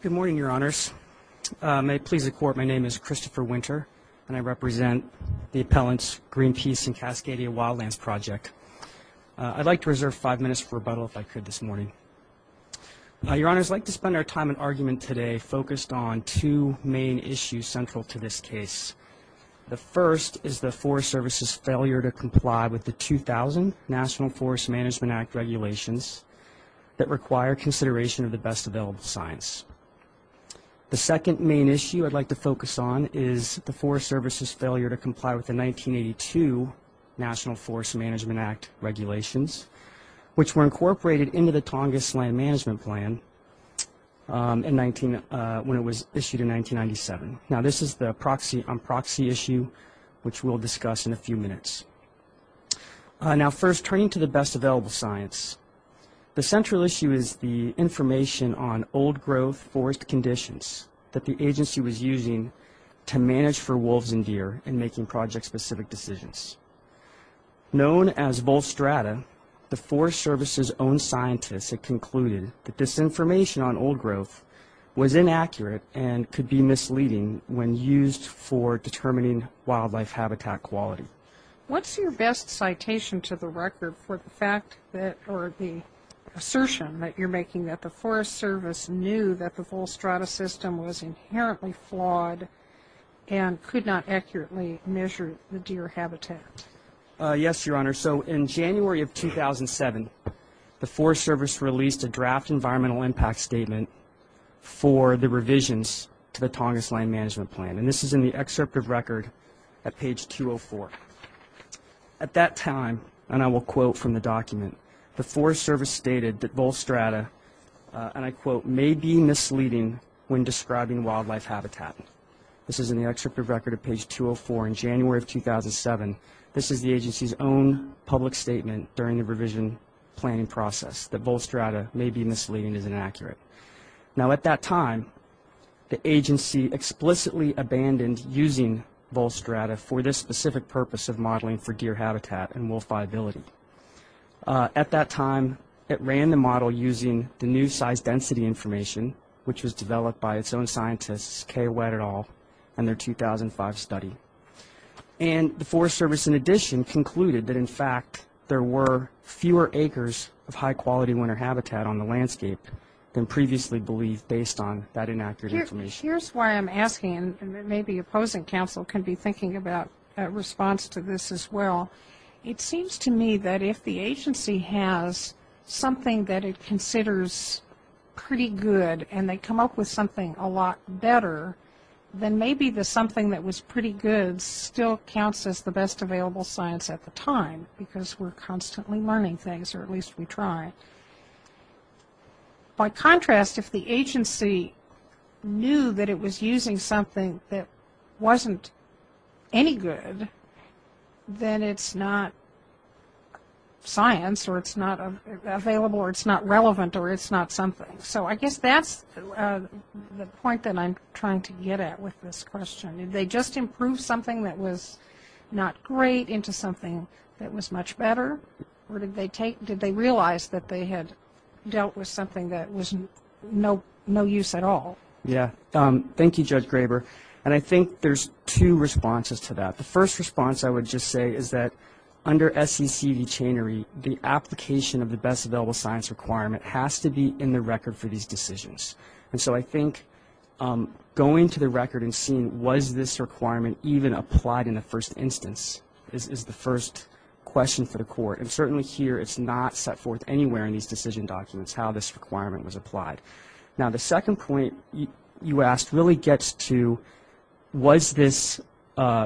Good morning, Your Honors. May it please the Court, my name is Christopher Winter, and I represent the appellants Greenpeace and Cascadia Wildlands Project. I'd like to reserve five minutes for rebuttal, if I could, this morning. Your Honors, I'd like to spend our time in argument today focused on two main issues central to this case. The first is the Forest Service's failure to comply with the 2000 National Forest Management Act regulations that require consideration of the best available science. The second main issue I'd like to focus on is the Forest Service's failure to comply with the 1982 National Forest Management Act regulations, which were incorporated into the Tongass Land Management Plan when it was issued in 1997. Now, this is the proxy on proxy issue, which we'll discuss in a few minutes. Now, first, turning to the best available science, the central issue is the information on old growth forest conditions that the agency was using to manage for wolves and deer in making project-specific decisions. Known as Volstrata, the Forest Service's own scientists had concluded that this information on old growth was inaccurate and could be misleading when used for determining wildlife habitat quality. What's your best citation to the record for the fact that, or the assertion that you're making, that the Forest Service knew that the Volstrata system was inherently flawed and could not accurately measure the deer habitat? Yes, Your Honor. So in January of 2007, the Forest Service released a draft environmental impact statement for the revisions to the Tongass Land Management Plan, and this is in the excerpt of record at page 204. At that time, and I will quote from the document, the Forest Service stated that Volstrata, and I quote, may be misleading when describing wildlife habitat. This is in the excerpt of record at page 204 in January of 2007. This is the agency's own public statement during the revision planning process, that Volstrata may be misleading and is inaccurate. Now at that time, the agency explicitly abandoned using Volstrata for this specific purpose of modeling for deer habitat and wolf viability. At that time, it ran the model using the new size density information, which was developed by its own scientists, Kay Wett et al., and their 2005 study. And the Forest Service, in addition, concluded that, in fact, there were fewer acres of high-quality winter habitat on the landscape than previously believed based on that inaccurate information. Here's why I'm asking, and maybe opposing counsel can be thinking about a response to this as well. It seems to me that if the agency has something that it considers pretty good and they come up with something a lot better, then maybe the something that was pretty good still counts as the best available science at the time, because we're constantly learning things, or at least we try. By contrast, if the agency knew that it was using something that wasn't any good, then it's not science, or it's not available, or it's not relevant, or it's not something. So I guess that's the point that I'm trying to get at with this question. Did they just improve something that was not great into something that was much better, or did they realize that they had dealt with something that was no use at all? Yeah. Thank you, Judge Graber. And I think there's two responses to that. The first response, I would just say, is that under SECV chainery, the application of the best available science requirement has to be in the record for these decisions. And so I think going to the record and seeing was this requirement even applied in the first instance is the first question for the court. And certainly here, it's not set forth anywhere in these decision documents how this requirement was applied. Now, the second point you asked really gets to was this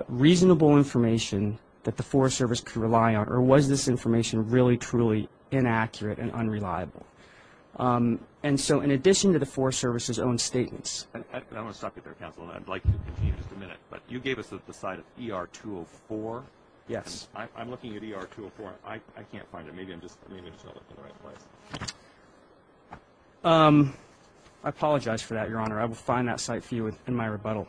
reasonable information that the Forest Service could rely on, or was this information really, truly inaccurate and unreliable? And so in addition to the Forest Service's own statements. I want to stop you there, counsel, and I'd like to continue just a minute. But you gave us the site of ER 204. Yes. I'm looking at ER 204. I can't find it. Maybe I'm just not looking at the right place. I apologize for that, Your Honor. I will find that site for you in my rebuttal.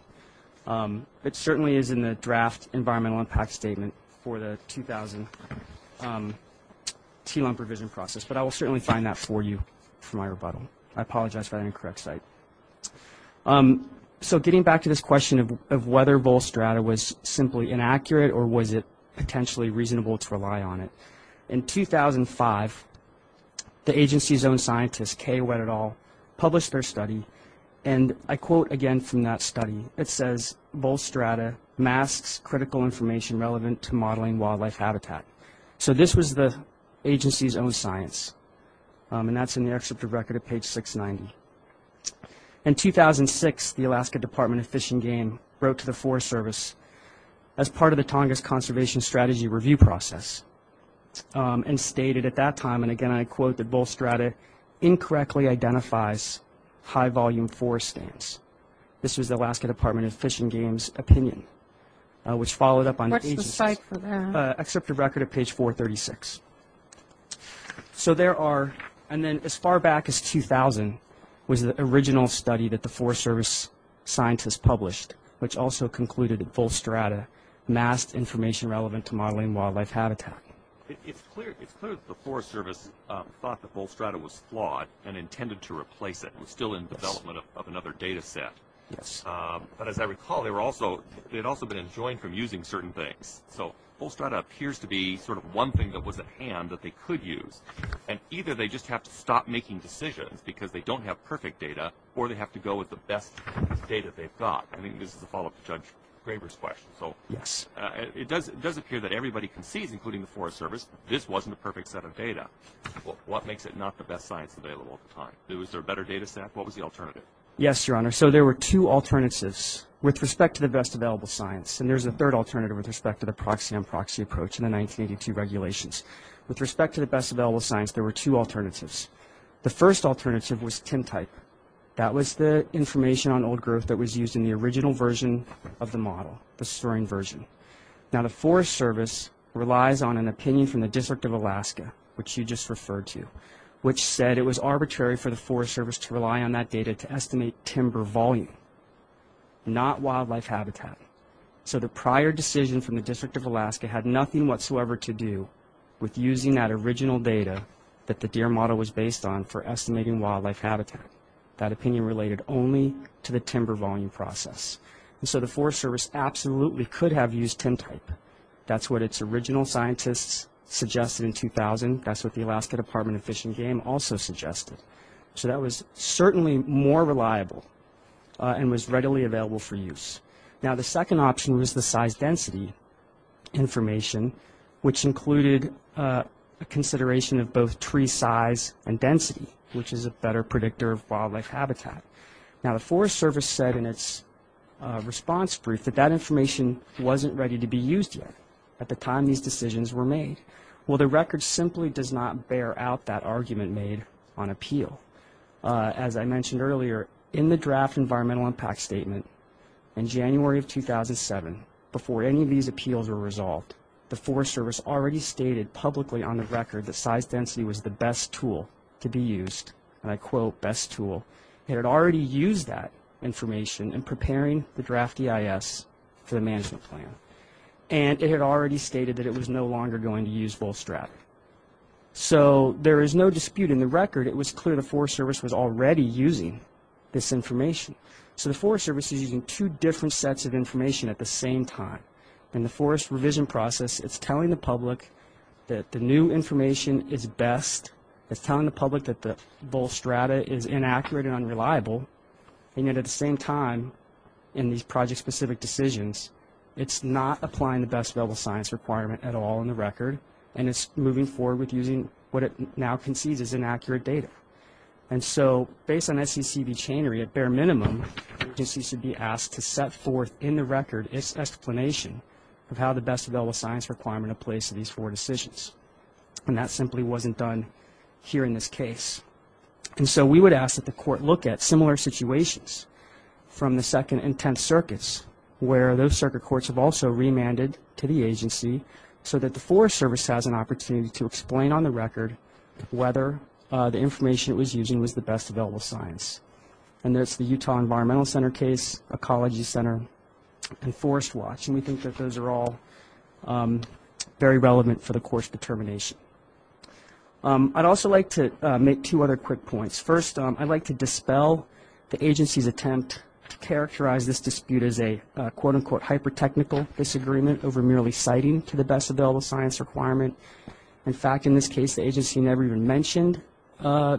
It certainly is in the draft environmental impact statement for the 2000 T-lump revision process, but I will certainly find that for you for my rebuttal. I apologize for that incorrect site. So getting back to this question of whether Volstrada was simply inaccurate or was it potentially reasonable to rely on it, in 2005, the agency's own scientist, published their study, and I quote again from that study. It says, Volstrada masks critical information relevant to modeling wildlife habitat. So this was the agency's own science, and that's in the excerpt of record at page 690. In 2006, the Alaska Department of Fish and Game wrote to the Forest Service as part of the Tongass Conservation Strategy review process and stated at that time, and again I quote, that Volstrada incorrectly identifies high-volume forest stains. This was the Alaska Department of Fish and Game's opinion, which followed up on the agency's – What's the site for that? Excerpt of record at page 436. So there are – and then as far back as 2000 was the original study that the Forest Service scientists published, which also concluded that Volstrada masked information relevant to modeling wildlife habitat. It's clear that the Forest Service thought that Volstrada was flawed and intended to replace it. It was still in development of another data set. But as I recall, they had also been enjoined from using certain things. So Volstrada appears to be sort of one thing that was at hand that they could use, and either they just have to stop making decisions because they don't have perfect data or they have to go with the best data they've got. I think this is a follow-up to Judge Graber's question. Yes. It does appear that everybody concedes, including the Forest Service, this wasn't a perfect set of data. What makes it not the best science available at the time? Was there a better data set? What was the alternative? Yes, Your Honor. So there were two alternatives with respect to the best available science. And there's a third alternative with respect to the proxy-on-proxy approach in the 1982 regulations. With respect to the best available science, there were two alternatives. The first alternative was TIM-type. That was the information on old growth that was used in the original version of the model, the storing version. Now, the Forest Service relies on an opinion from the District of Alaska, which you just referred to, which said it was arbitrary for the Forest Service to rely on that data to estimate timber volume, not wildlife habitat. So the prior decision from the District of Alaska had nothing whatsoever to do with using that original data that the DEER model was based on for estimating wildlife habitat. That opinion related only to the timber volume process. And so the Forest Service absolutely could have used TIM-type. That's what its original scientists suggested in 2000. That's what the Alaska Department of Fish and Game also suggested. So that was certainly more reliable and was readily available for use. Now, the second option was the size-density information, which included a consideration of both tree size and density, which is a better predictor of wildlife habitat. Now, the Forest Service said in its response brief that that information wasn't ready to be used yet at the time these decisions were made. Well, the record simply does not bear out that argument made on appeal. As I mentioned earlier, in the draft environmental impact statement in January of 2007, before any of these appeals were resolved, the Forest Service already stated publicly on the record that size-density was the best tool to be used. And I quote, best tool. It had already used that information in preparing the draft EIS for the management plan. And it had already stated that it was no longer going to use VolStrat. So there is no dispute in the record. It was clear the Forest Service was already using this information. So the Forest Service is using two different sets of information at the same time. In the forest revision process, it's telling the public that the new information is best. It's telling the public that the VolStrat is inaccurate and unreliable. And yet at the same time, in these project-specific decisions, it's not applying the best available science requirement at all in the record. And it's moving forward with using what it now concedes is inaccurate data. And so based on SECB chainery, at bare minimum, the agency should be asked to set forth in the record its explanation of how the best available science requirement applies to these four decisions. And that simply wasn't done here in this case. And so we would ask that the court look at similar situations from the Second and Tenth Circuits, where those circuit courts have also remanded to the agency so that the Forest Service has an opportunity to explain on the record whether the information it was using was the best available science. And that's the Utah Environmental Center case, Ecology Center, and Forest Watch. And we think that those are all very relevant for the court's determination. I'd also like to make two other quick points. First, I'd like to dispel the agency's attempt to characterize this dispute as a, quote-unquote, hyper-technical disagreement over merely citing to the best available science requirement. In fact, in this case, the agency never even mentioned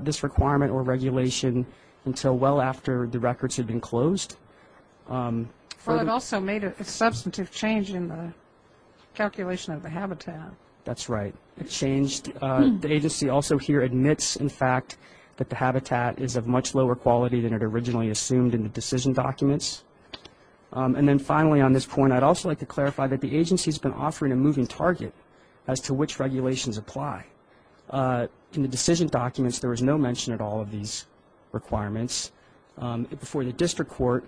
this requirement or regulation until well after the records had been closed. Well, it also made a substantive change in the calculation of the habitat. That's right. It changed. The agency also here admits, in fact, that the habitat is of much lower quality than it originally assumed in the decision documents. And then, finally, on this point, I'd also like to clarify that the agency has been offering a moving target as to which regulations apply. In the decision documents, there was no mention at all of these requirements. Before the district court,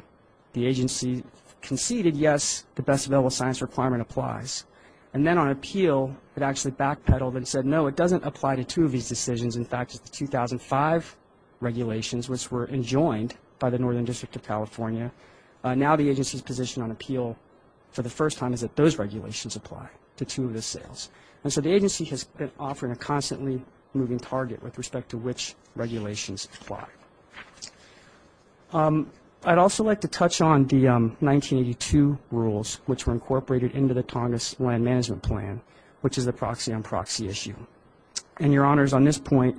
the agency conceded, yes, the best available science requirement applies. And then on appeal, it actually backpedaled and said, no, it doesn't apply to two of these decisions. In fact, it's the 2005 regulations, which were enjoined by the Northern District of California. Now the agency's position on appeal for the first time is that those regulations apply to two of the sales. And so the agency has been offering a constantly moving target with respect to which regulations apply. I'd also like to touch on the 1982 rules, which were incorporated into the Tongass Land Management Plan, which is the proxy-on-proxy issue. And, Your Honors, on this point,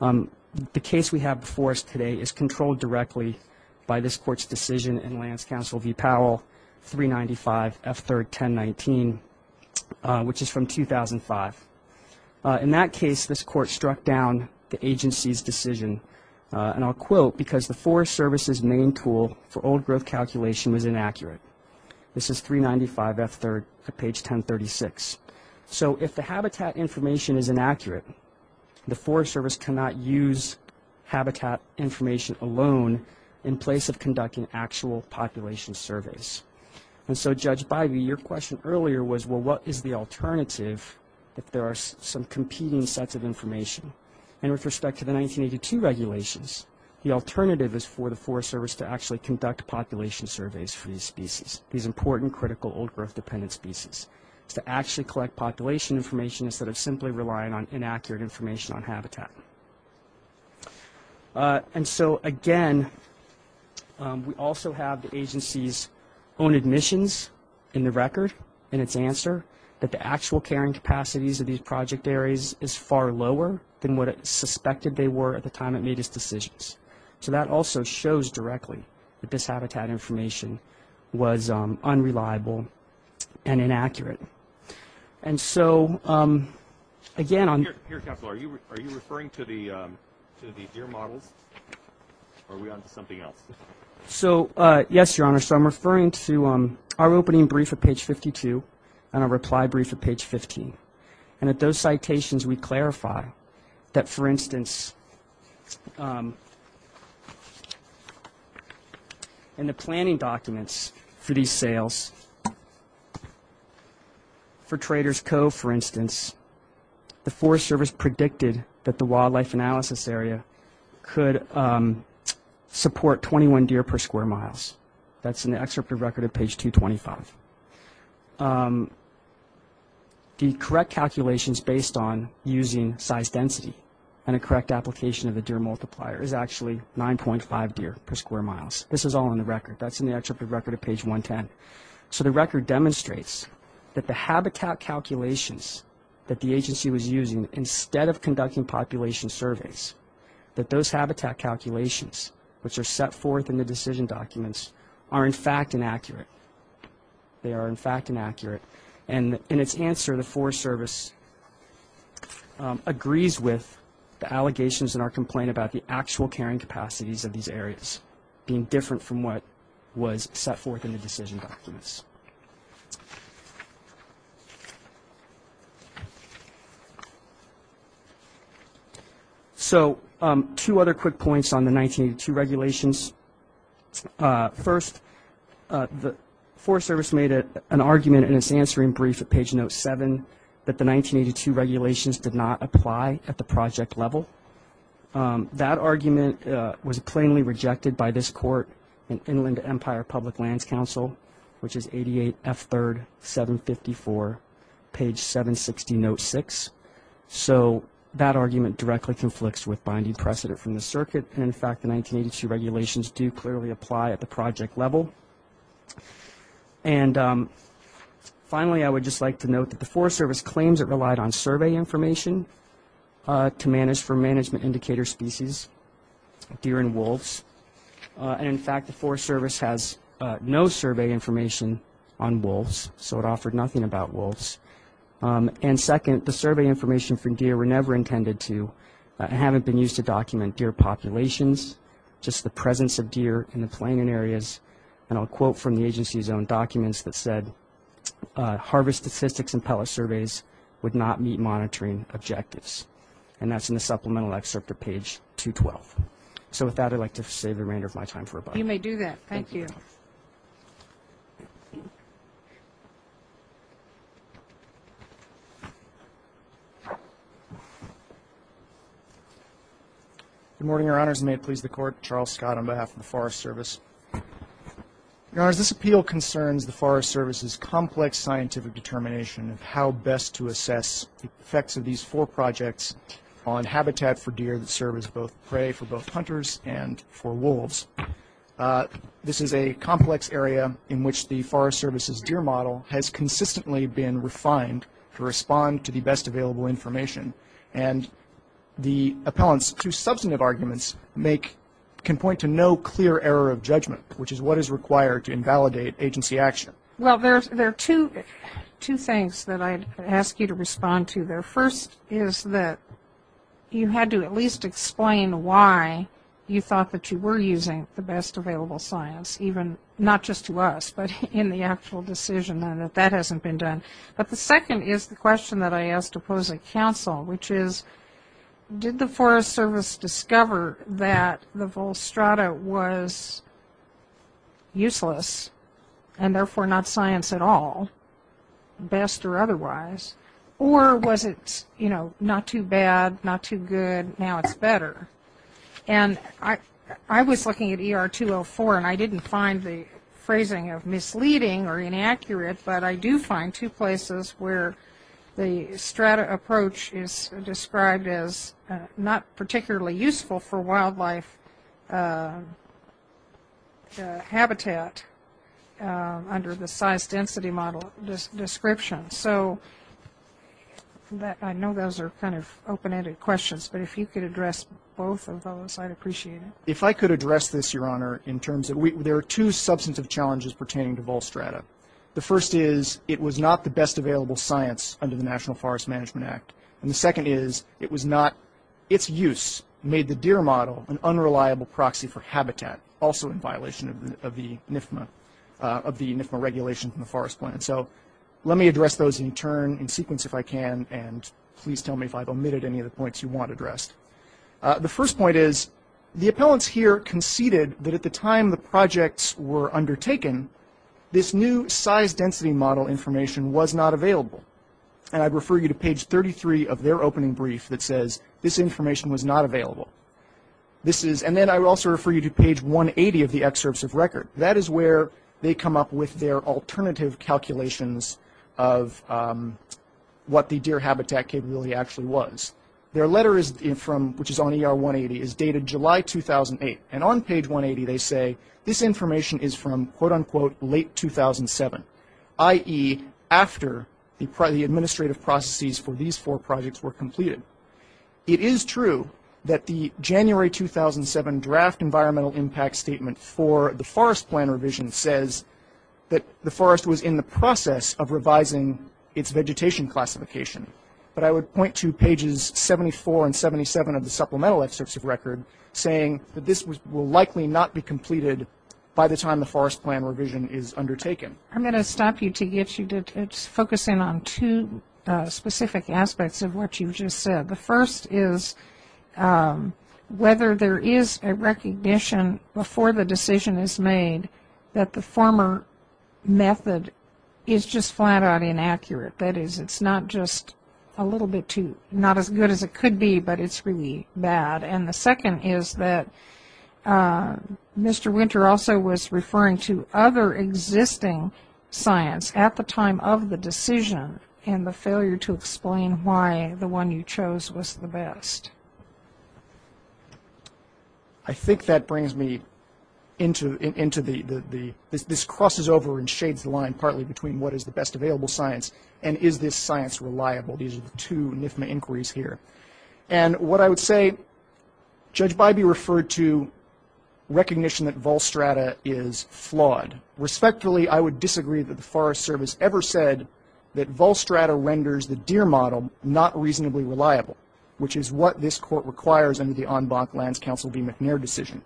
the case we have before us today is controlled directly by this Court's decision in Lance Counsel v. Powell, 395 F. 3rd, 1019, which is from 2005. In that case, this Court struck down the agency's decision, and I'll quote, because the Forest Service's main tool for old growth calculation was inaccurate. This is 395 F. 3rd, page 1036. So if the habitat information is inaccurate, the Forest Service cannot use habitat information alone in place of conducting actual population surveys. And so, Judge Bivey, your question earlier was, well, what is the alternative if there are some competing sets of information? And with respect to the 1982 regulations, the alternative is for the Forest Service to actually conduct population surveys for these species, these important, critical, old-growth-dependent species, to actually collect population information instead of simply relying on inaccurate information on habitat. And so, again, we also have the agency's own admissions in the record, in its answer, that the actual carrying capacities of these project areas is far lower than what it suspected they were at the time it made its decisions. So that also shows directly that this habitat information was unreliable and inaccurate. And so, again, on... Here, Counselor, are you referring to the deer models, or are we on to something else? So, yes, Your Honor. So I'm referring to our opening brief at page 52 and our reply brief at page 15. And at those citations, we clarify that, for instance, in the planning documents for these sales, for Traders' Cove, for instance, the Forest Service predicted that the wildlife analysis area could support 21 deer per square miles. That's in the excerpt of record at page 225. The correct calculations based on using size density and a correct application of the deer multiplier is actually 9.5 deer per square miles. This is all in the record. That's in the excerpt of record at page 110. So the record demonstrates that the habitat calculations that the agency was using, instead of conducting population surveys, that those habitat calculations, which are set forth in the decision documents, are, in fact, inaccurate. They are, in fact, inaccurate. And in its answer, the Forest Service agrees with the allegations in our complaint about the actual carrying capacities of these areas being different from what was set forth in the decision documents. So two other quick points on the 1982 regulations. First, the Forest Service made an argument in its answering brief at page note 7 that the 1982 regulations did not apply at the project level. That argument was plainly rejected by this court in Inland Empire Public Lands Council, which is 88F3754, page 760, note 6. So that argument directly conflicts with binding precedent from the circuit. And, in fact, the 1982 regulations do clearly apply at the project level. And, finally, I would just like to note that the Forest Service claims it relied on survey information to manage for management indicator species, deer and wolves. And, in fact, the Forest Service has no survey information on wolves, so it offered nothing about wolves. And, second, the survey information for deer were never intended to and haven't been used to document deer populations, just the presence of deer in the planning areas. And I'll quote from the agency's own documents that said, harvest statistics and pellet surveys would not meet monitoring objectives. And that's in the supplemental excerpt at page 212. So with that, I'd like to save the remainder of my time for rebuttal. You may do that. Thank you. Good morning, Your Honors. May it please the Court. Charles Scott on behalf of the Forest Service. Your Honors, this appeal concerns the Forest Service's complex scientific determination of how best to assess the effects of these four projects on habitat for deer that serve as both prey for both hunters and for wolves. This is a complex area in which the Forest Service's deer model has consistently been refined to respond to the best available information. And the appellant's two substantive arguments can point to no clear error of judgment, which is what is required to invalidate agency action. Well, there are two things that I'd ask you to respond to there. The first is that you had to at least explain why you thought that you were using the best available science, not just to us, but in the actual decision and that that hasn't been done. But the second is the question that I asked opposing counsel, which is did the Forest Service discover that the Volstrata was useless and therefore not science at all, best or otherwise, or was it, you know, not too bad, not too good, now it's better. And I was looking at ER 204 and I didn't find the phrasing of misleading or inaccurate, but I do find two places where the Strata approach is described as not particularly useful for wildlife habitat under the size density model description. So I know those are kind of open-ended questions, but if you could address both of those, I'd appreciate it. If I could address this, Your Honor, in terms of there are two substantive challenges pertaining to Volstrata. The first is it was not the best available science under the National Forest Management Act. And the second is it was not its use made the DEER model an unreliable proxy for habitat, also in violation of the NIFMA regulation in the Forest Plan. So let me address those in turn, in sequence if I can, and please tell me if I've omitted any of the points you want addressed. The first point is the appellants here conceded that at the time the projects were undertaken, this new size density model information was not available. And I'd refer you to page 33 of their opening brief that says this information was not available. And then I would also refer you to page 180 of the excerpts of record. That is where they come up with their alternative calculations of what the DEER habitat capability actually was. Their letter, which is on ER 180, is dated July 2008. And on page 180 they say this information is from, quote, unquote, late 2007, i.e. after the administrative processes for these four projects were completed. It is true that the January 2007 draft environmental impact statement for the Forest Plan revision says that the forest was in the process of revising its vegetation classification. But I would point to pages 74 and 77 of the supplemental excerpts of record saying that this will likely not be completed by the time the Forest Plan revision is undertaken. I'm going to stop you to get you to focus in on two specific aspects of what you've just said. The first is whether there is a recognition before the decision is made that the former method is just flat-out inaccurate. That is, it's not just a little bit too, not as good as it could be, but it's really bad. And the second is that Mr. Winter also was referring to other existing science at the time of the decision and the failure to explain why the one you chose was the best. I think that brings me into the, this crosses over and shades the line partly between what is the best available science and is this science reliable. These are the two NIFMA inquiries here. And what I would say, Judge Bybee referred to recognition that Volstrata is flawed. Respectfully, I would disagree that the Forest Service ever said that Volstrata renders the DEER model not reasonably reliable, which is what this Court requires under the en banc lands counsel B. McNair decision.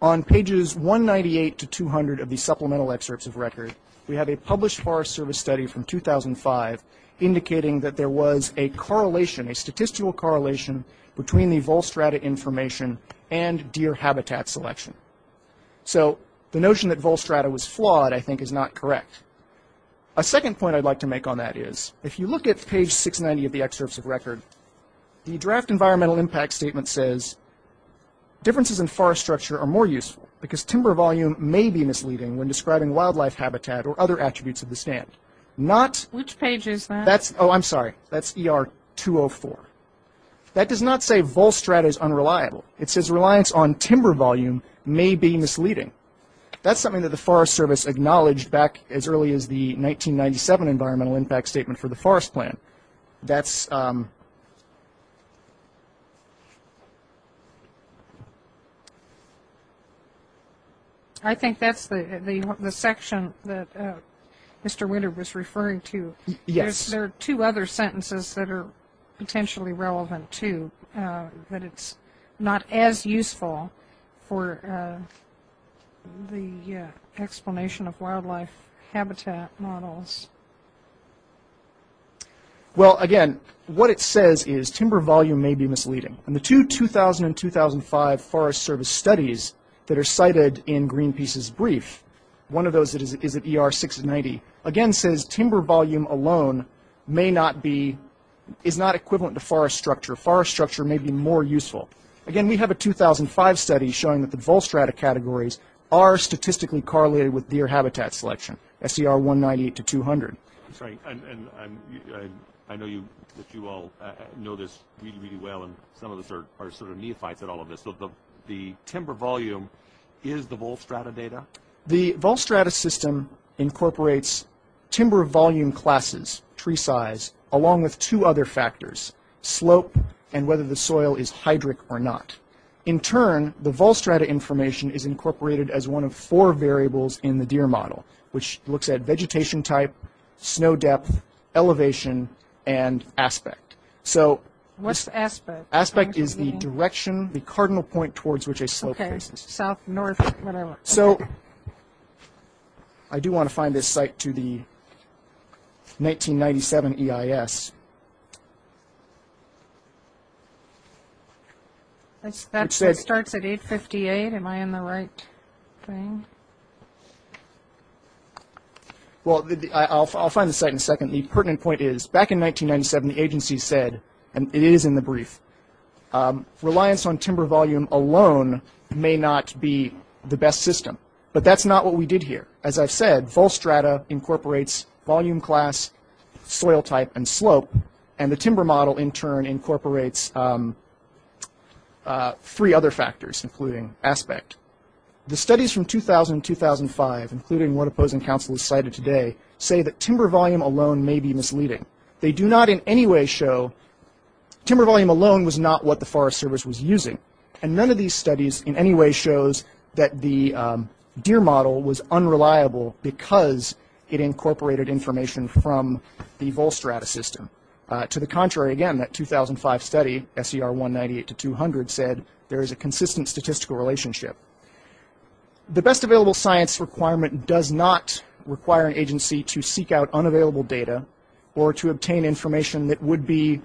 On pages 198 to 200 of the supplemental excerpts of record, we have a published Forest Service study from 2005 indicating that there was a correlation, a statistical correlation between the Volstrata information and DEER habitat selection. So the notion that Volstrata was flawed, I think, is not correct. A second point I'd like to make on that is, if you look at page 690 of the excerpts of record, the draft environmental impact statement says, Differences in forest structure are more useful because timber volume may be misleading when describing wildlife habitat or other attributes of the stand. Not... Which page is that? That's, oh, I'm sorry. That's ER 204. That does not say Volstrata is unreliable. It says reliance on timber volume may be misleading. That's something that the Forest Service acknowledged back as early as the 1997 environmental impact statement for the forest plan. That's... I think that's the section that Mr. Winter was referring to. Yes. There are two other sentences that are potentially relevant, too, but it's not as useful for the explanation of wildlife habitat models. Well, again, what it says is timber volume may be misleading. And the two 2000 and 2005 Forest Service studies that are cited in Greenpeace's brief, one of those is at ER 690, again says timber volume alone may not be... is not equivalent to forest structure. Forest structure may be more useful. Again, we have a 2005 study showing that the Volstrata categories are statistically correlated with deer habitat selection, SCR 198 to 200. I'm sorry, and I know that you all know this really, really well, and some of us are sort of neophytes at all of this. So the timber volume is the Volstrata data? The Volstrata system incorporates timber volume classes, tree size, along with two other factors, slope and whether the soil is hydric or not. In turn, the Volstrata information is incorporated as one of four variables in the deer model, which looks at vegetation type, snow depth, elevation, and aspect. What's aspect? Aspect is the direction, the cardinal point towards which a slope faces. Okay, south, north, whatever. So I do want to find this site to the 1997 EIS. It starts at 858. Am I in the right thing? Well, I'll find the site in a second. The pertinent point is back in 1997, the agency said, and it is in the brief, reliance on timber volume alone may not be the best system. But that's not what we did here. As I've said, Volstrata incorporates volume class, soil type, and slope, and the timber model, in turn, incorporates three other factors, including aspect. The studies from 2000 and 2005, including what Opposing Council has cited today, say that timber volume alone may be misleading. They do not in any way show timber volume alone was not what the Forest Service was using, and none of these studies in any way shows that the deer model was unreliable because it incorporated information from the Volstrata system. To the contrary, again, that 2005 study, SER 198 to 200, said there is a consistent statistical relationship. The best available science requirement does not require an agency to seek out or to obtain information that would be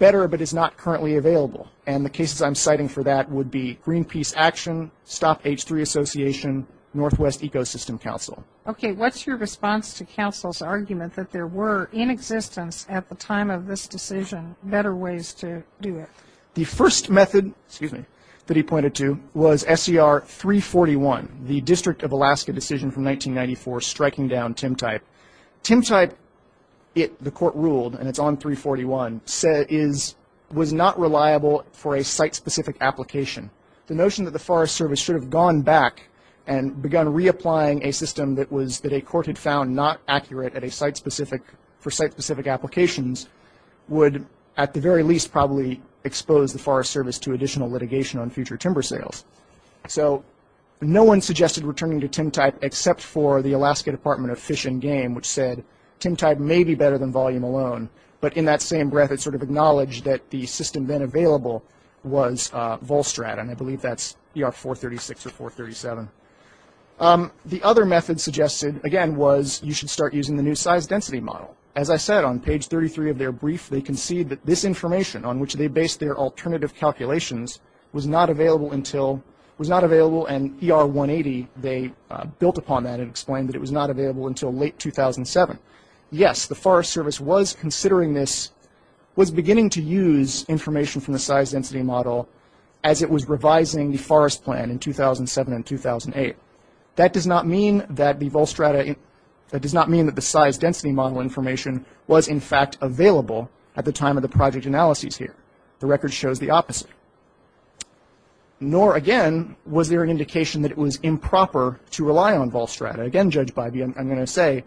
better but is not currently available, and the cases I'm citing for that would be Greenpeace Action, Stop H3 Association, Northwest Ecosystem Council. Okay, what's your response to Council's argument that there were, in existence at the time of this decision, better ways to do it? The first method, excuse me, that he pointed to was SER 341, the District of Alaska decision from 1994 striking down Timtype. Timtype, the court ruled, and it's on 341, was not reliable for a site-specific application. The notion that the Forest Service should have gone back and begun reapplying a system that a court had found not accurate for site-specific applications would, at the very least, probably expose the Forest Service to additional litigation on future timber sales. So no one suggested returning to Timtype except for the Alaska Department of Fish and Game, which said Timtype may be better than volume alone, but in that same breath it sort of acknowledged that the system then available was Volstrad, and I believe that's ER 436 or 437. The other method suggested, again, was you should start using the new size-density model. As I said, on page 33 of their brief, they concede that this information on which they based their alternative calculations was not available and ER 180, they built upon that and explained that it was not available until late 2007. Yes, the Forest Service was considering this, was beginning to use information from the size-density model as it was revising the forest plan in 2007 and 2008. That does not mean that the Volstrada, that does not mean that the size-density model information was, in fact, available at the time of the project analyses here. The record shows the opposite. Nor, again, was there an indication that it was improper to rely on Volstrada. Again, judged by the, I'm going to say,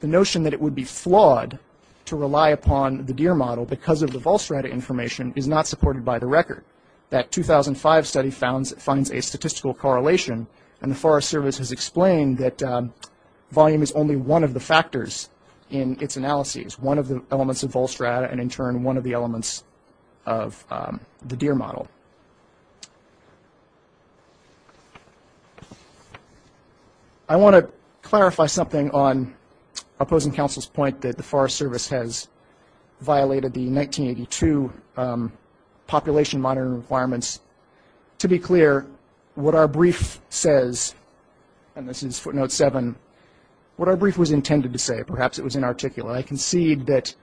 the notion that it would be flawed to rely upon the DEER model because of the Volstrada information is not supported by the record. That 2005 study finds a statistical correlation, and the Forest Service has explained that volume is only one of the factors in its analyses, one of the elements of Volstrada and, in turn, one of the elements of the DEER model. I want to clarify something on opposing counsel's point that the Forest Service has violated the 1982 population monitoring requirements. To be clear, what our brief says, and this is footnote 7, what our brief was intended to say, perhaps it was inarticulate. I concede that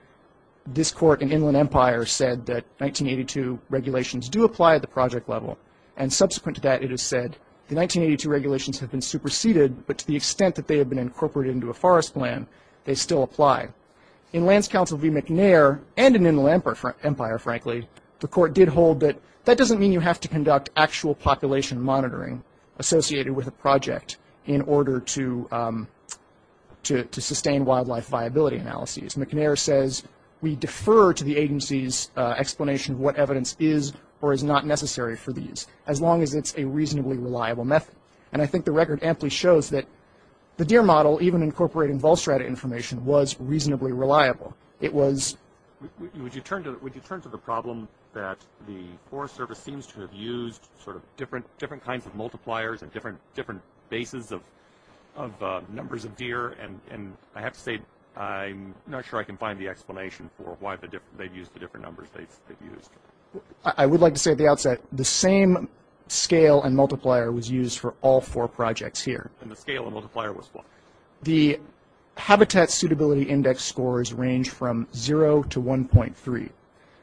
this court in Inland Empire said that 1982 regulations do apply at the project level, and subsequent to that it has said the 1982 regulations have been superseded, but to the extent that they have been incorporated into a forest plan, they still apply. In Lands Council v. McNair, and in Inland Empire, frankly, the court did hold that that doesn't mean you have to conduct actual population monitoring associated with a project in order to sustain wildlife viability analyses. McNair says we defer to the agency's explanation of what evidence is or is not necessary for these, as long as it's a reasonably reliable method. And I think the record amply shows that the DEER model, even incorporating Volstrada information, was reasonably reliable. Would you turn to the problem that the Forest Service seems to have used sort of different kinds of multipliers and different bases of numbers of DEER, and I have to say I'm not sure I can find the explanation for why they've used the different numbers they've used. I would like to say at the outset, the same scale and multiplier was used for all four projects here. And the scale and multiplier was what? The Habitat Suitability Index scores range from 0 to 1.3.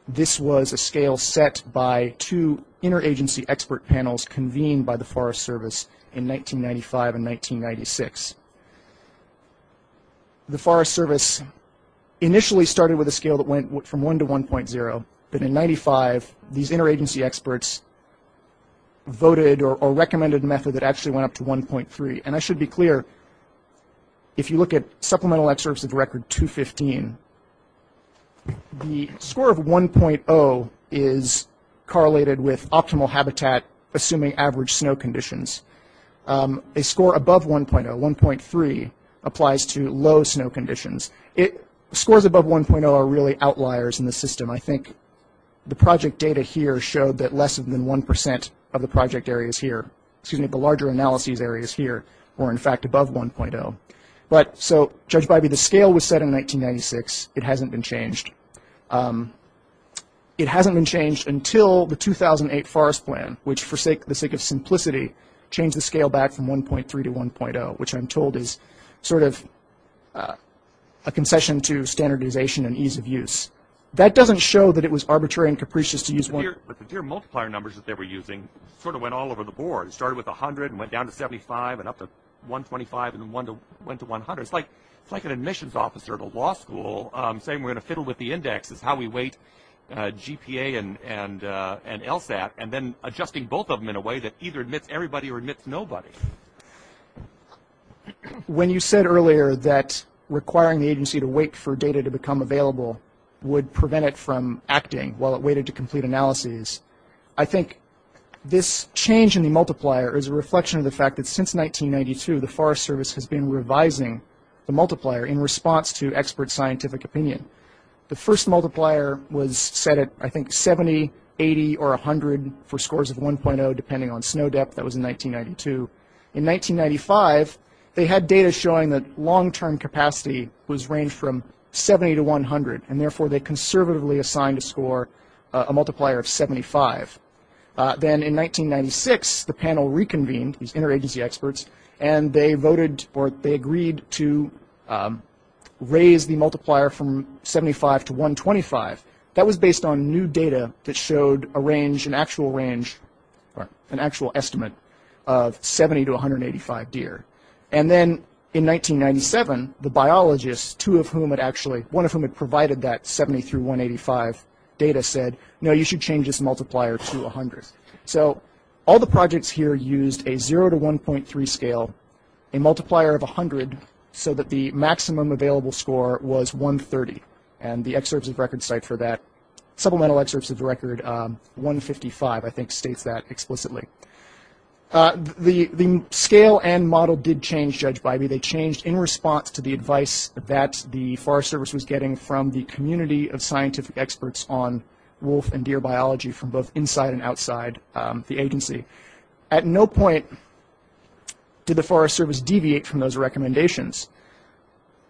This was a scale set by two interagency expert panels convened by the Forest Service in 1995 and 1996. The Forest Service initially started with a scale that went from 1 to 1.0, but in 1995, these interagency experts voted or recommended a method that actually went up to 1.3. And I should be clear, if you look at supplemental excerpts of record 215, the score of 1.0 is correlated with optimal habitat assuming average snow conditions. A score above 1.0, 1.3, applies to low snow conditions. Scores above 1.0 are really outliers in the system. I think the project data here showed that less than 1 percent of the project areas here, excuse me, the larger analyses areas here were, in fact, above 1.0. But so, Judge Bybee, the scale was set in 1996. It hasn't been changed. It hasn't been changed until the 2008 forest plan, which, for the sake of simplicity, changed the scale back from 1.3 to 1.0, which I'm told is sort of a concession to standardization and ease of use. That doesn't show that it was arbitrary and capricious to use 1.0. But the tier multiplier numbers that they were using sort of went all over the board. It started with 100 and went down to 75 and up to 125 and then went to 100. It's like an admissions officer at a law school saying we're going to fiddle with the indexes, how we weight GPA and LSAT, and then adjusting both of them in a way that either admits everybody or admits nobody. When you said earlier that requiring the agency to wait for data to become available would prevent it from acting while it waited to complete analyses, I think this change in the multiplier is a reflection of the fact that since 1992, the Forest Service has been revising the multiplier in response to expert scientific opinion. The first multiplier was set at, I think, 70, 80, or 100 for scores of 1.0, depending on snow depth. That was in 1992. In 1995, they had data showing that long-term capacity was ranged from 70 to 100, and therefore they conservatively assigned a score, a multiplier of 75. Then in 1996, the panel reconvened, these interagency experts, and they voted or they agreed to raise the multiplier from 75 to 125. That was based on new data that showed a range, an actual range, an actual estimate of 70 to 185 deer. And then in 1997, the biologists, two of whom had actually – one of whom had provided that 70 through 185 data, said, no, you should change this multiplier to 100. So all the projects here used a 0 to 1.3 scale, a multiplier of 100, so that the maximum available score was 130, and the excerpts of records cite for that. Supplemental excerpts of the record, 155, I think states that explicitly. The scale and model did change, Judge Bybee. They changed in response to the advice that the Forest Service was getting from the community of scientific experts on wolf and deer biology from both inside and outside the agency. At no point did the Forest Service deviate from those recommendations.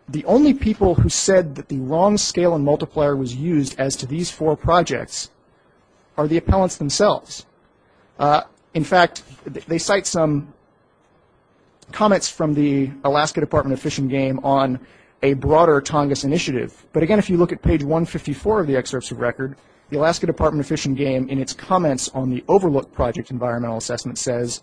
The only people who said that the wrong scale and multiplier was used as to these four projects are the appellants themselves. In fact, they cite some comments from the Alaska Department of Fish and Game on a broader Tongass initiative. But again, if you look at page 154 of the excerpts of record, the Alaska Department of Fish and Game, in its comments on the Overlook Project environmental assessment, says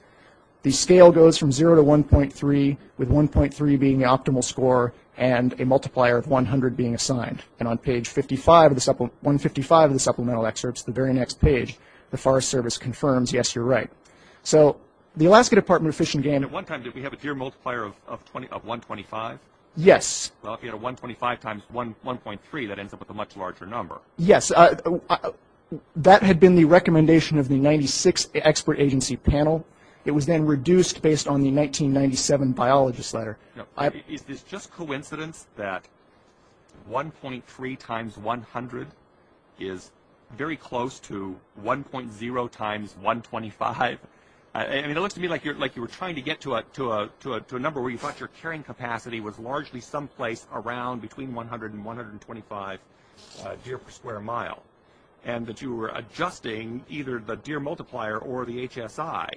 the scale goes from 0 to 1.3, with 1.3 being the optimal score and a multiplier of 100 being assigned. And on page 155 of the supplemental excerpts, the very next page, the Forest Service confirms, yes, you're right. So the Alaska Department of Fish and Game – At one time, did we have a deer multiplier of 125? Yes. Well, if you had a 125 times 1.3, that ends up with a much larger number. Yes. That had been the recommendation of the 96th Expert Agency Panel. It was then reduced based on the 1997 biologist letter. Is this just coincidence that 1.3 times 100 is very close to 1.0 times 125? I mean, it looks to me like you were trying to get to a number where you thought your carrying capacity was largely someplace around between 100 and 125 deer per square mile and that you were adjusting either the deer multiplier or the HSI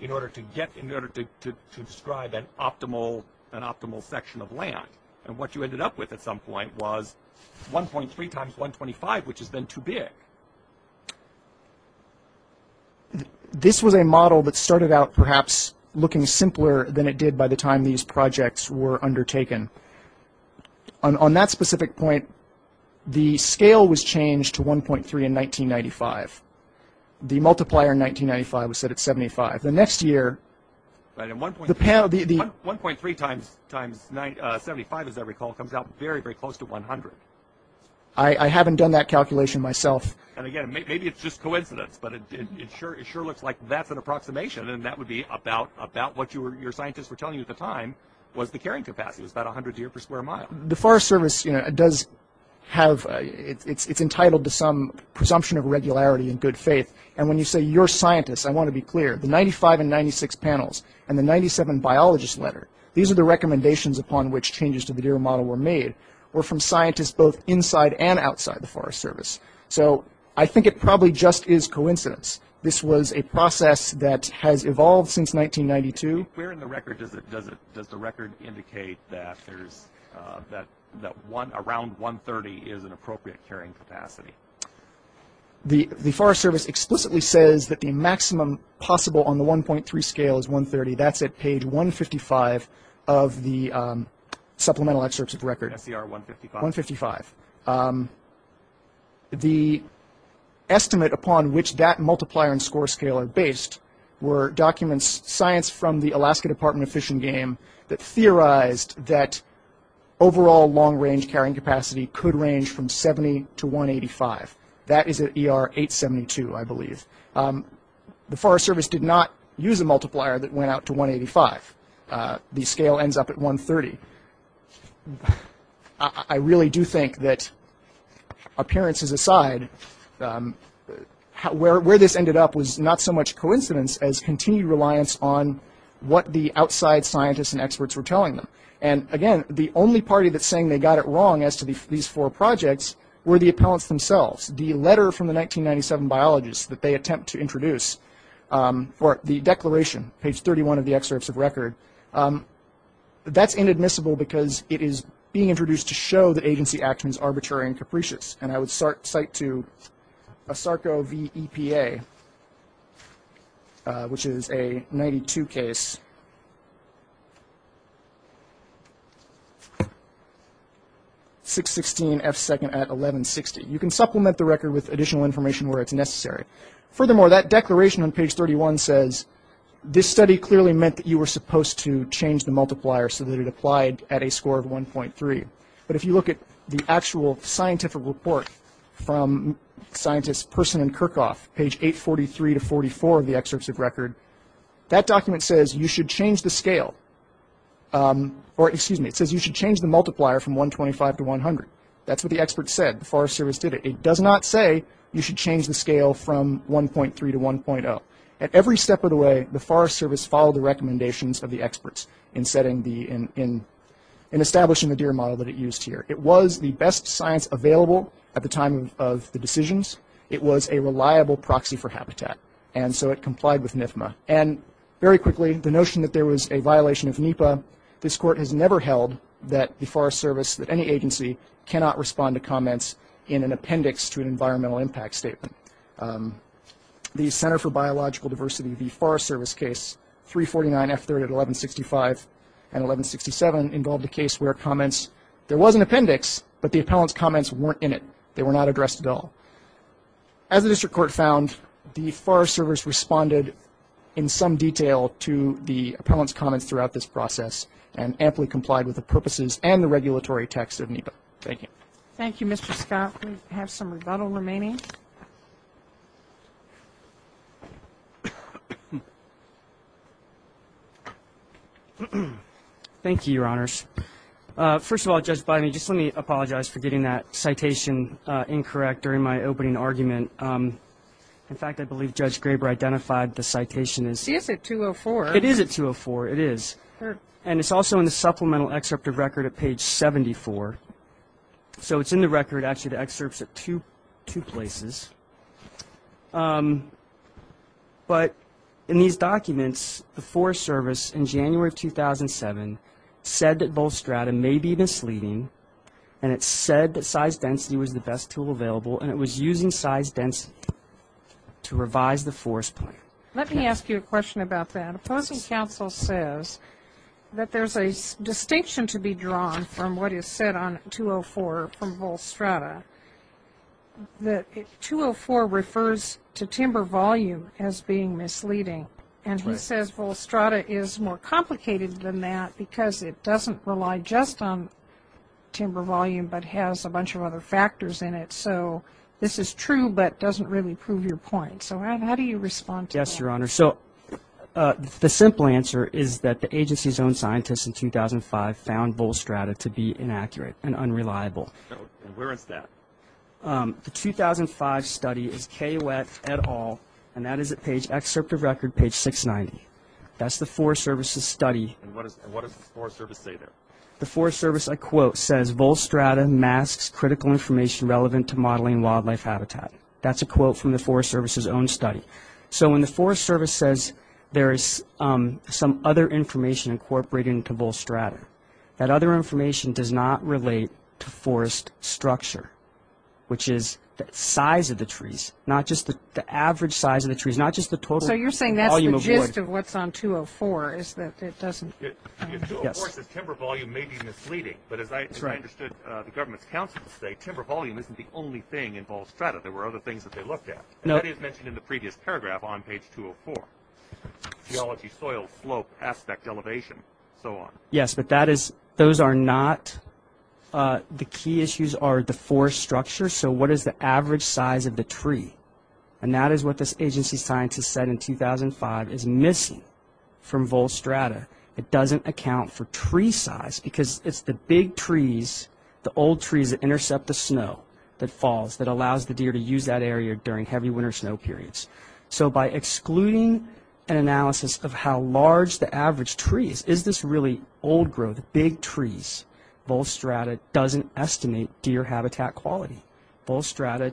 in order to describe an optimal section of land. And what you ended up with at some point was 1.3 times 125, which is then too big. This was a model that started out perhaps looking simpler than it did by the time these projects were undertaken. On that specific point, the scale was changed to 1.3 in 1995. The multiplier in 1995 was set at 75. The next year, the panel... 1.3 times 75, as I recall, comes out very, very close to 100. I haven't done that calculation myself. And, again, maybe it's just coincidence, but it sure looks like that's an approximation, and that would be about what your scientists were telling you at the time was the carrying capacity. It was about 100 deer per square mile. The Forest Service does have... It's entitled to some presumption of regularity and good faith. And when you say your scientists, I want to be clear. The 95 and 96 panels and the 97 biologist letter, these are the recommendations upon which changes to the deer model were made, were from scientists both inside and outside the Forest Service. So I think it probably just is coincidence. This was a process that has evolved since 1992. Where in the record does the record indicate that around 130 is an appropriate carrying capacity? The Forest Service explicitly says that the maximum possible on the 1.3 scale is 130. That's at page 155 of the supplemental excerpts of the record. SCR 155? 155. Those were documents, science from the Alaska Department of Fish and Game, that theorized that overall long-range carrying capacity could range from 70 to 185. That is at ER 872, I believe. The Forest Service did not use a multiplier that went out to 185. The scale ends up at 130. I really do think that, appearances aside, where this ended up was not so much coincidence as continued reliance on what the outside scientists and experts were telling them. And, again, the only party that's saying they got it wrong as to these four projects were the appellants themselves. The letter from the 1997 biologist that they attempt to introduce for the declaration, page 31 of the excerpts of record, that's inadmissible because it is being introduced to show that agency action is arbitrary and capricious. And I would cite to ASARCO v. EPA, which is a 92 case, 616 F2nd at 1160. You can supplement the record with additional information where it's necessary. Furthermore, that declaration on page 31 says, this study clearly meant that you were supposed to change the multiplier so that it applied at a score of 1.3. But if you look at the actual scientific report from scientists Persson and Kirchhoff, page 843 to 844 of the excerpts of record, that document says you should change the scale, or, excuse me, it says you should change the multiplier from 125 to 100. That's what the experts said. The Forest Service did it. It does not say you should change the scale from 1.3 to 1.0. At every step of the way, the Forest Service followed the recommendations of the experts in establishing the deer model that it used here. It was the best science available at the time of the decisions. It was a reliable proxy for habitat, and so it complied with NIFMA. And very quickly, the notion that there was a violation of NEPA, this Court has never held that the Forest Service, that any agency, cannot respond to comments in an appendix to an environmental impact statement. The Center for Biological Diversity, the Forest Service case, 349F3 at 1165 and 1167, involved a case where comments, there was an appendix, but the appellant's comments weren't in it. They were not addressed at all. As the District Court found, the Forest Service responded in some detail to the appellant's comments throughout this process and amply complied with the purposes and the regulatory text of NEPA. Thank you. Thank you, Mr. Scott. We have some rebuttal remaining. Thank you, Your Honors. First of all, Judge Biden, just let me apologize for getting that citation incorrect during my opening argument. In fact, I believe Judge Graber identified the citation as 204. It is at 204. It is. And it's also in the supplemental excerpt of record at page 74. So it's in the record, actually, the excerpts at two places. But in these documents, the Forest Service, in January of 2007, said that both strata may be misleading, and it said that size density was the best tool available, and it was using size density to revise the forest plan. Let me ask you a question about that. The opposing counsel says that there's a distinction to be drawn from what is said on 204 from vol strata, that 204 refers to timber volume as being misleading. And he says vol strata is more complicated than that because it doesn't rely just on timber volume but has a bunch of other factors in it. So this is true but doesn't really prove your point. So how do you respond to that? Yes, Your Honor. So the simple answer is that the agency's own scientists in 2005 found vol strata to be inaccurate and unreliable. And where is that? The 2005 study is K. Wett et al., and that is at page excerpt of record, page 690. That's the Forest Service's study. And what does the Forest Service say there? The Forest Service, I quote, says, Vol strata masks critical information relevant to modeling wildlife habitat. That's a quote from the Forest Service's own study. So when the Forest Service says there is some other information incorporated into vol strata, that other information does not relate to forest structure, which is the size of the trees, not just the average size of the trees, not just the total volume of wood. So you're saying that's the gist of what's on 204 is that it doesn't? Yes. 204 says timber volume may be misleading, but as I understood the government's counsel to say, timber volume isn't the only thing in vol strata. There were other things that they looked at. That is mentioned in the previous paragraph on page 204. Geology, soil, slope, aspect, elevation, so on. Yes, but those are not the key issues are the forest structure. So what is the average size of the tree? And that is what this agency scientist said in 2005 is missing from vol strata. It doesn't account for tree size because it's the big trees, the old trees that intercept the snow that falls, that allows the deer to use that area during heavy winter snow periods. So by excluding an analysis of how large the average tree is, is this really old growth, big trees? Vol strata doesn't estimate deer habitat quality. Vol strata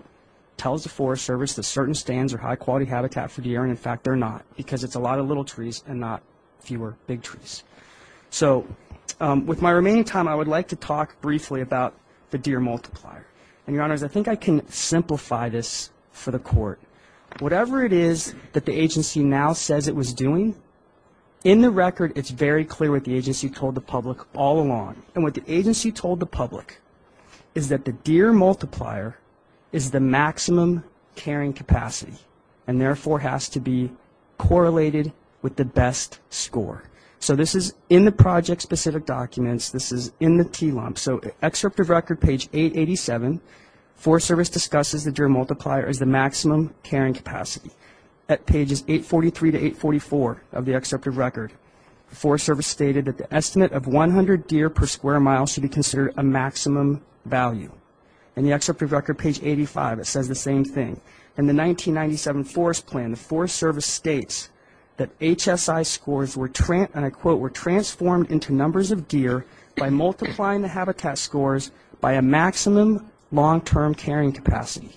tells the Forest Service that certain stands are high-quality habitat for deer, and, in fact, they're not because it's a lot of little trees and not fewer big trees. So with my remaining time, I would like to talk briefly about the deer multiplier. And, Your Honors, I think I can simplify this for the Court. Whatever it is that the agency now says it was doing, in the record it's very clear what the agency told the public all along. And what the agency told the public is that the deer multiplier is the maximum carrying capacity and, therefore, has to be correlated with the best score. So this is in the project-specific documents. This is in the T lump. So Excerpt of Record, page 887, Forest Service discusses the deer multiplier as the maximum carrying capacity. At pages 843 to 844 of the Excerpt of Record, the Forest Service stated that the estimate of 100 deer per square mile should be considered a maximum value. In the Excerpt of Record, page 85, it says the same thing. In the 1997 Forest Plan, the Forest Service states that HSI scores, and I quote, were transformed into numbers of deer by multiplying the habitat scores by a maximum long-term carrying capacity,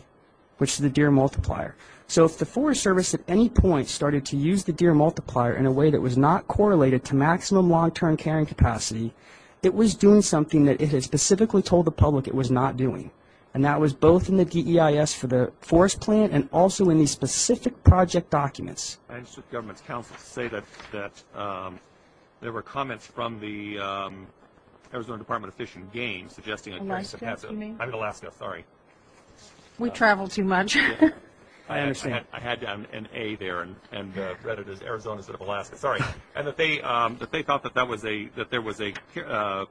which is the deer multiplier. So if the Forest Service at any point started to use the deer multiplier in a way that was not correlated to maximum long-term carrying capacity, it was doing something that it had specifically told the public it was not doing. And that was both in the DEIS for the Forest Plan and also in the specific project documents. I just want the government's counsel to say that there were comments from the Arizona Department of Fish and Game suggesting that there was a capacity. Alaska, you mean? I'm in Alaska, sorry. We travel too much. I understand. I had an A there and read it as Arizona instead of Alaska, sorry. And that they thought that there was a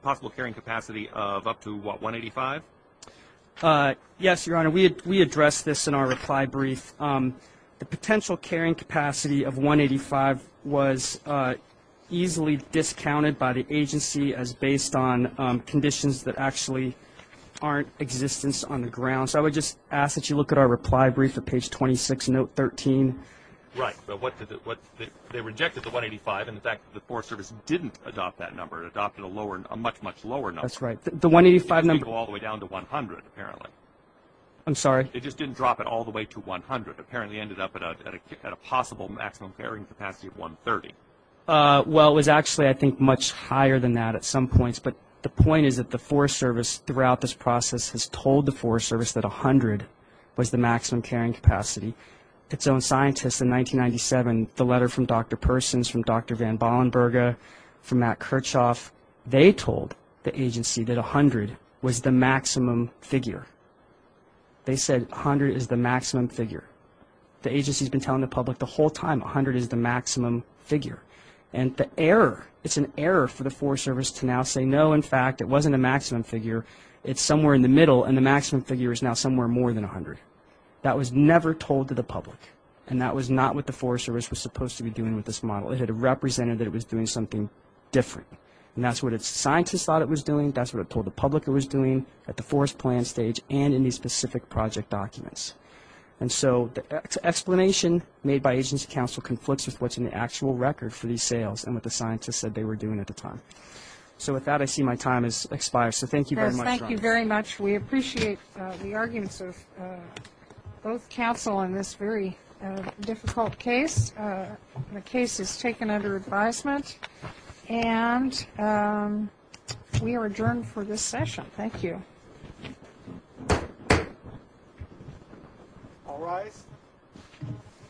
possible carrying capacity of up to, what, 185? Yes, Your Honor, we addressed this in our reply brief. The potential carrying capacity of 185 was easily discounted by the agency as based on conditions that actually aren't existence on the ground. So I would just ask that you look at our reply brief at page 26, note 13. Right. They rejected the 185, and, in fact, the Forest Service didn't adopt that number. It adopted a much, much lower number. That's right. The 185 number- It didn't go all the way down to 100, apparently. I'm sorry? It just didn't drop it all the way to 100. It apparently ended up at a possible maximum carrying capacity of 130. Well, it was actually, I think, much higher than that at some points. But the point is that the Forest Service throughout this process has told the Forest Service that 100 was the maximum carrying capacity. Its own scientists in 1997, the letter from Dr. Persons, from Dr. Van Bollenberga, from Matt Kirchhoff, they told the agency that 100 was the maximum figure. They said 100 is the maximum figure. The agency has been telling the public the whole time 100 is the maximum figure. And the error, it's an error for the Forest Service to now say, no, in fact, it wasn't a maximum figure. It's somewhere in the middle, and the maximum figure is now somewhere more than 100. That was never told to the public. And that was not what the Forest Service was supposed to be doing with this model. It had represented that it was doing something different. And that's what its scientists thought it was doing. That's what it told the public it was doing at the forest plan stage and in these specific project documents. And so the explanation made by agency counsel conflicts with what's in the actual record for these sales and what the scientists said they were doing at the time. So with that, I see my time has expired. So thank you very much. Thank you very much. We appreciate the arguments of both counsel on this very difficult case. The case is taken under advisement. And we are adjourned for this session. Thank you. All rise.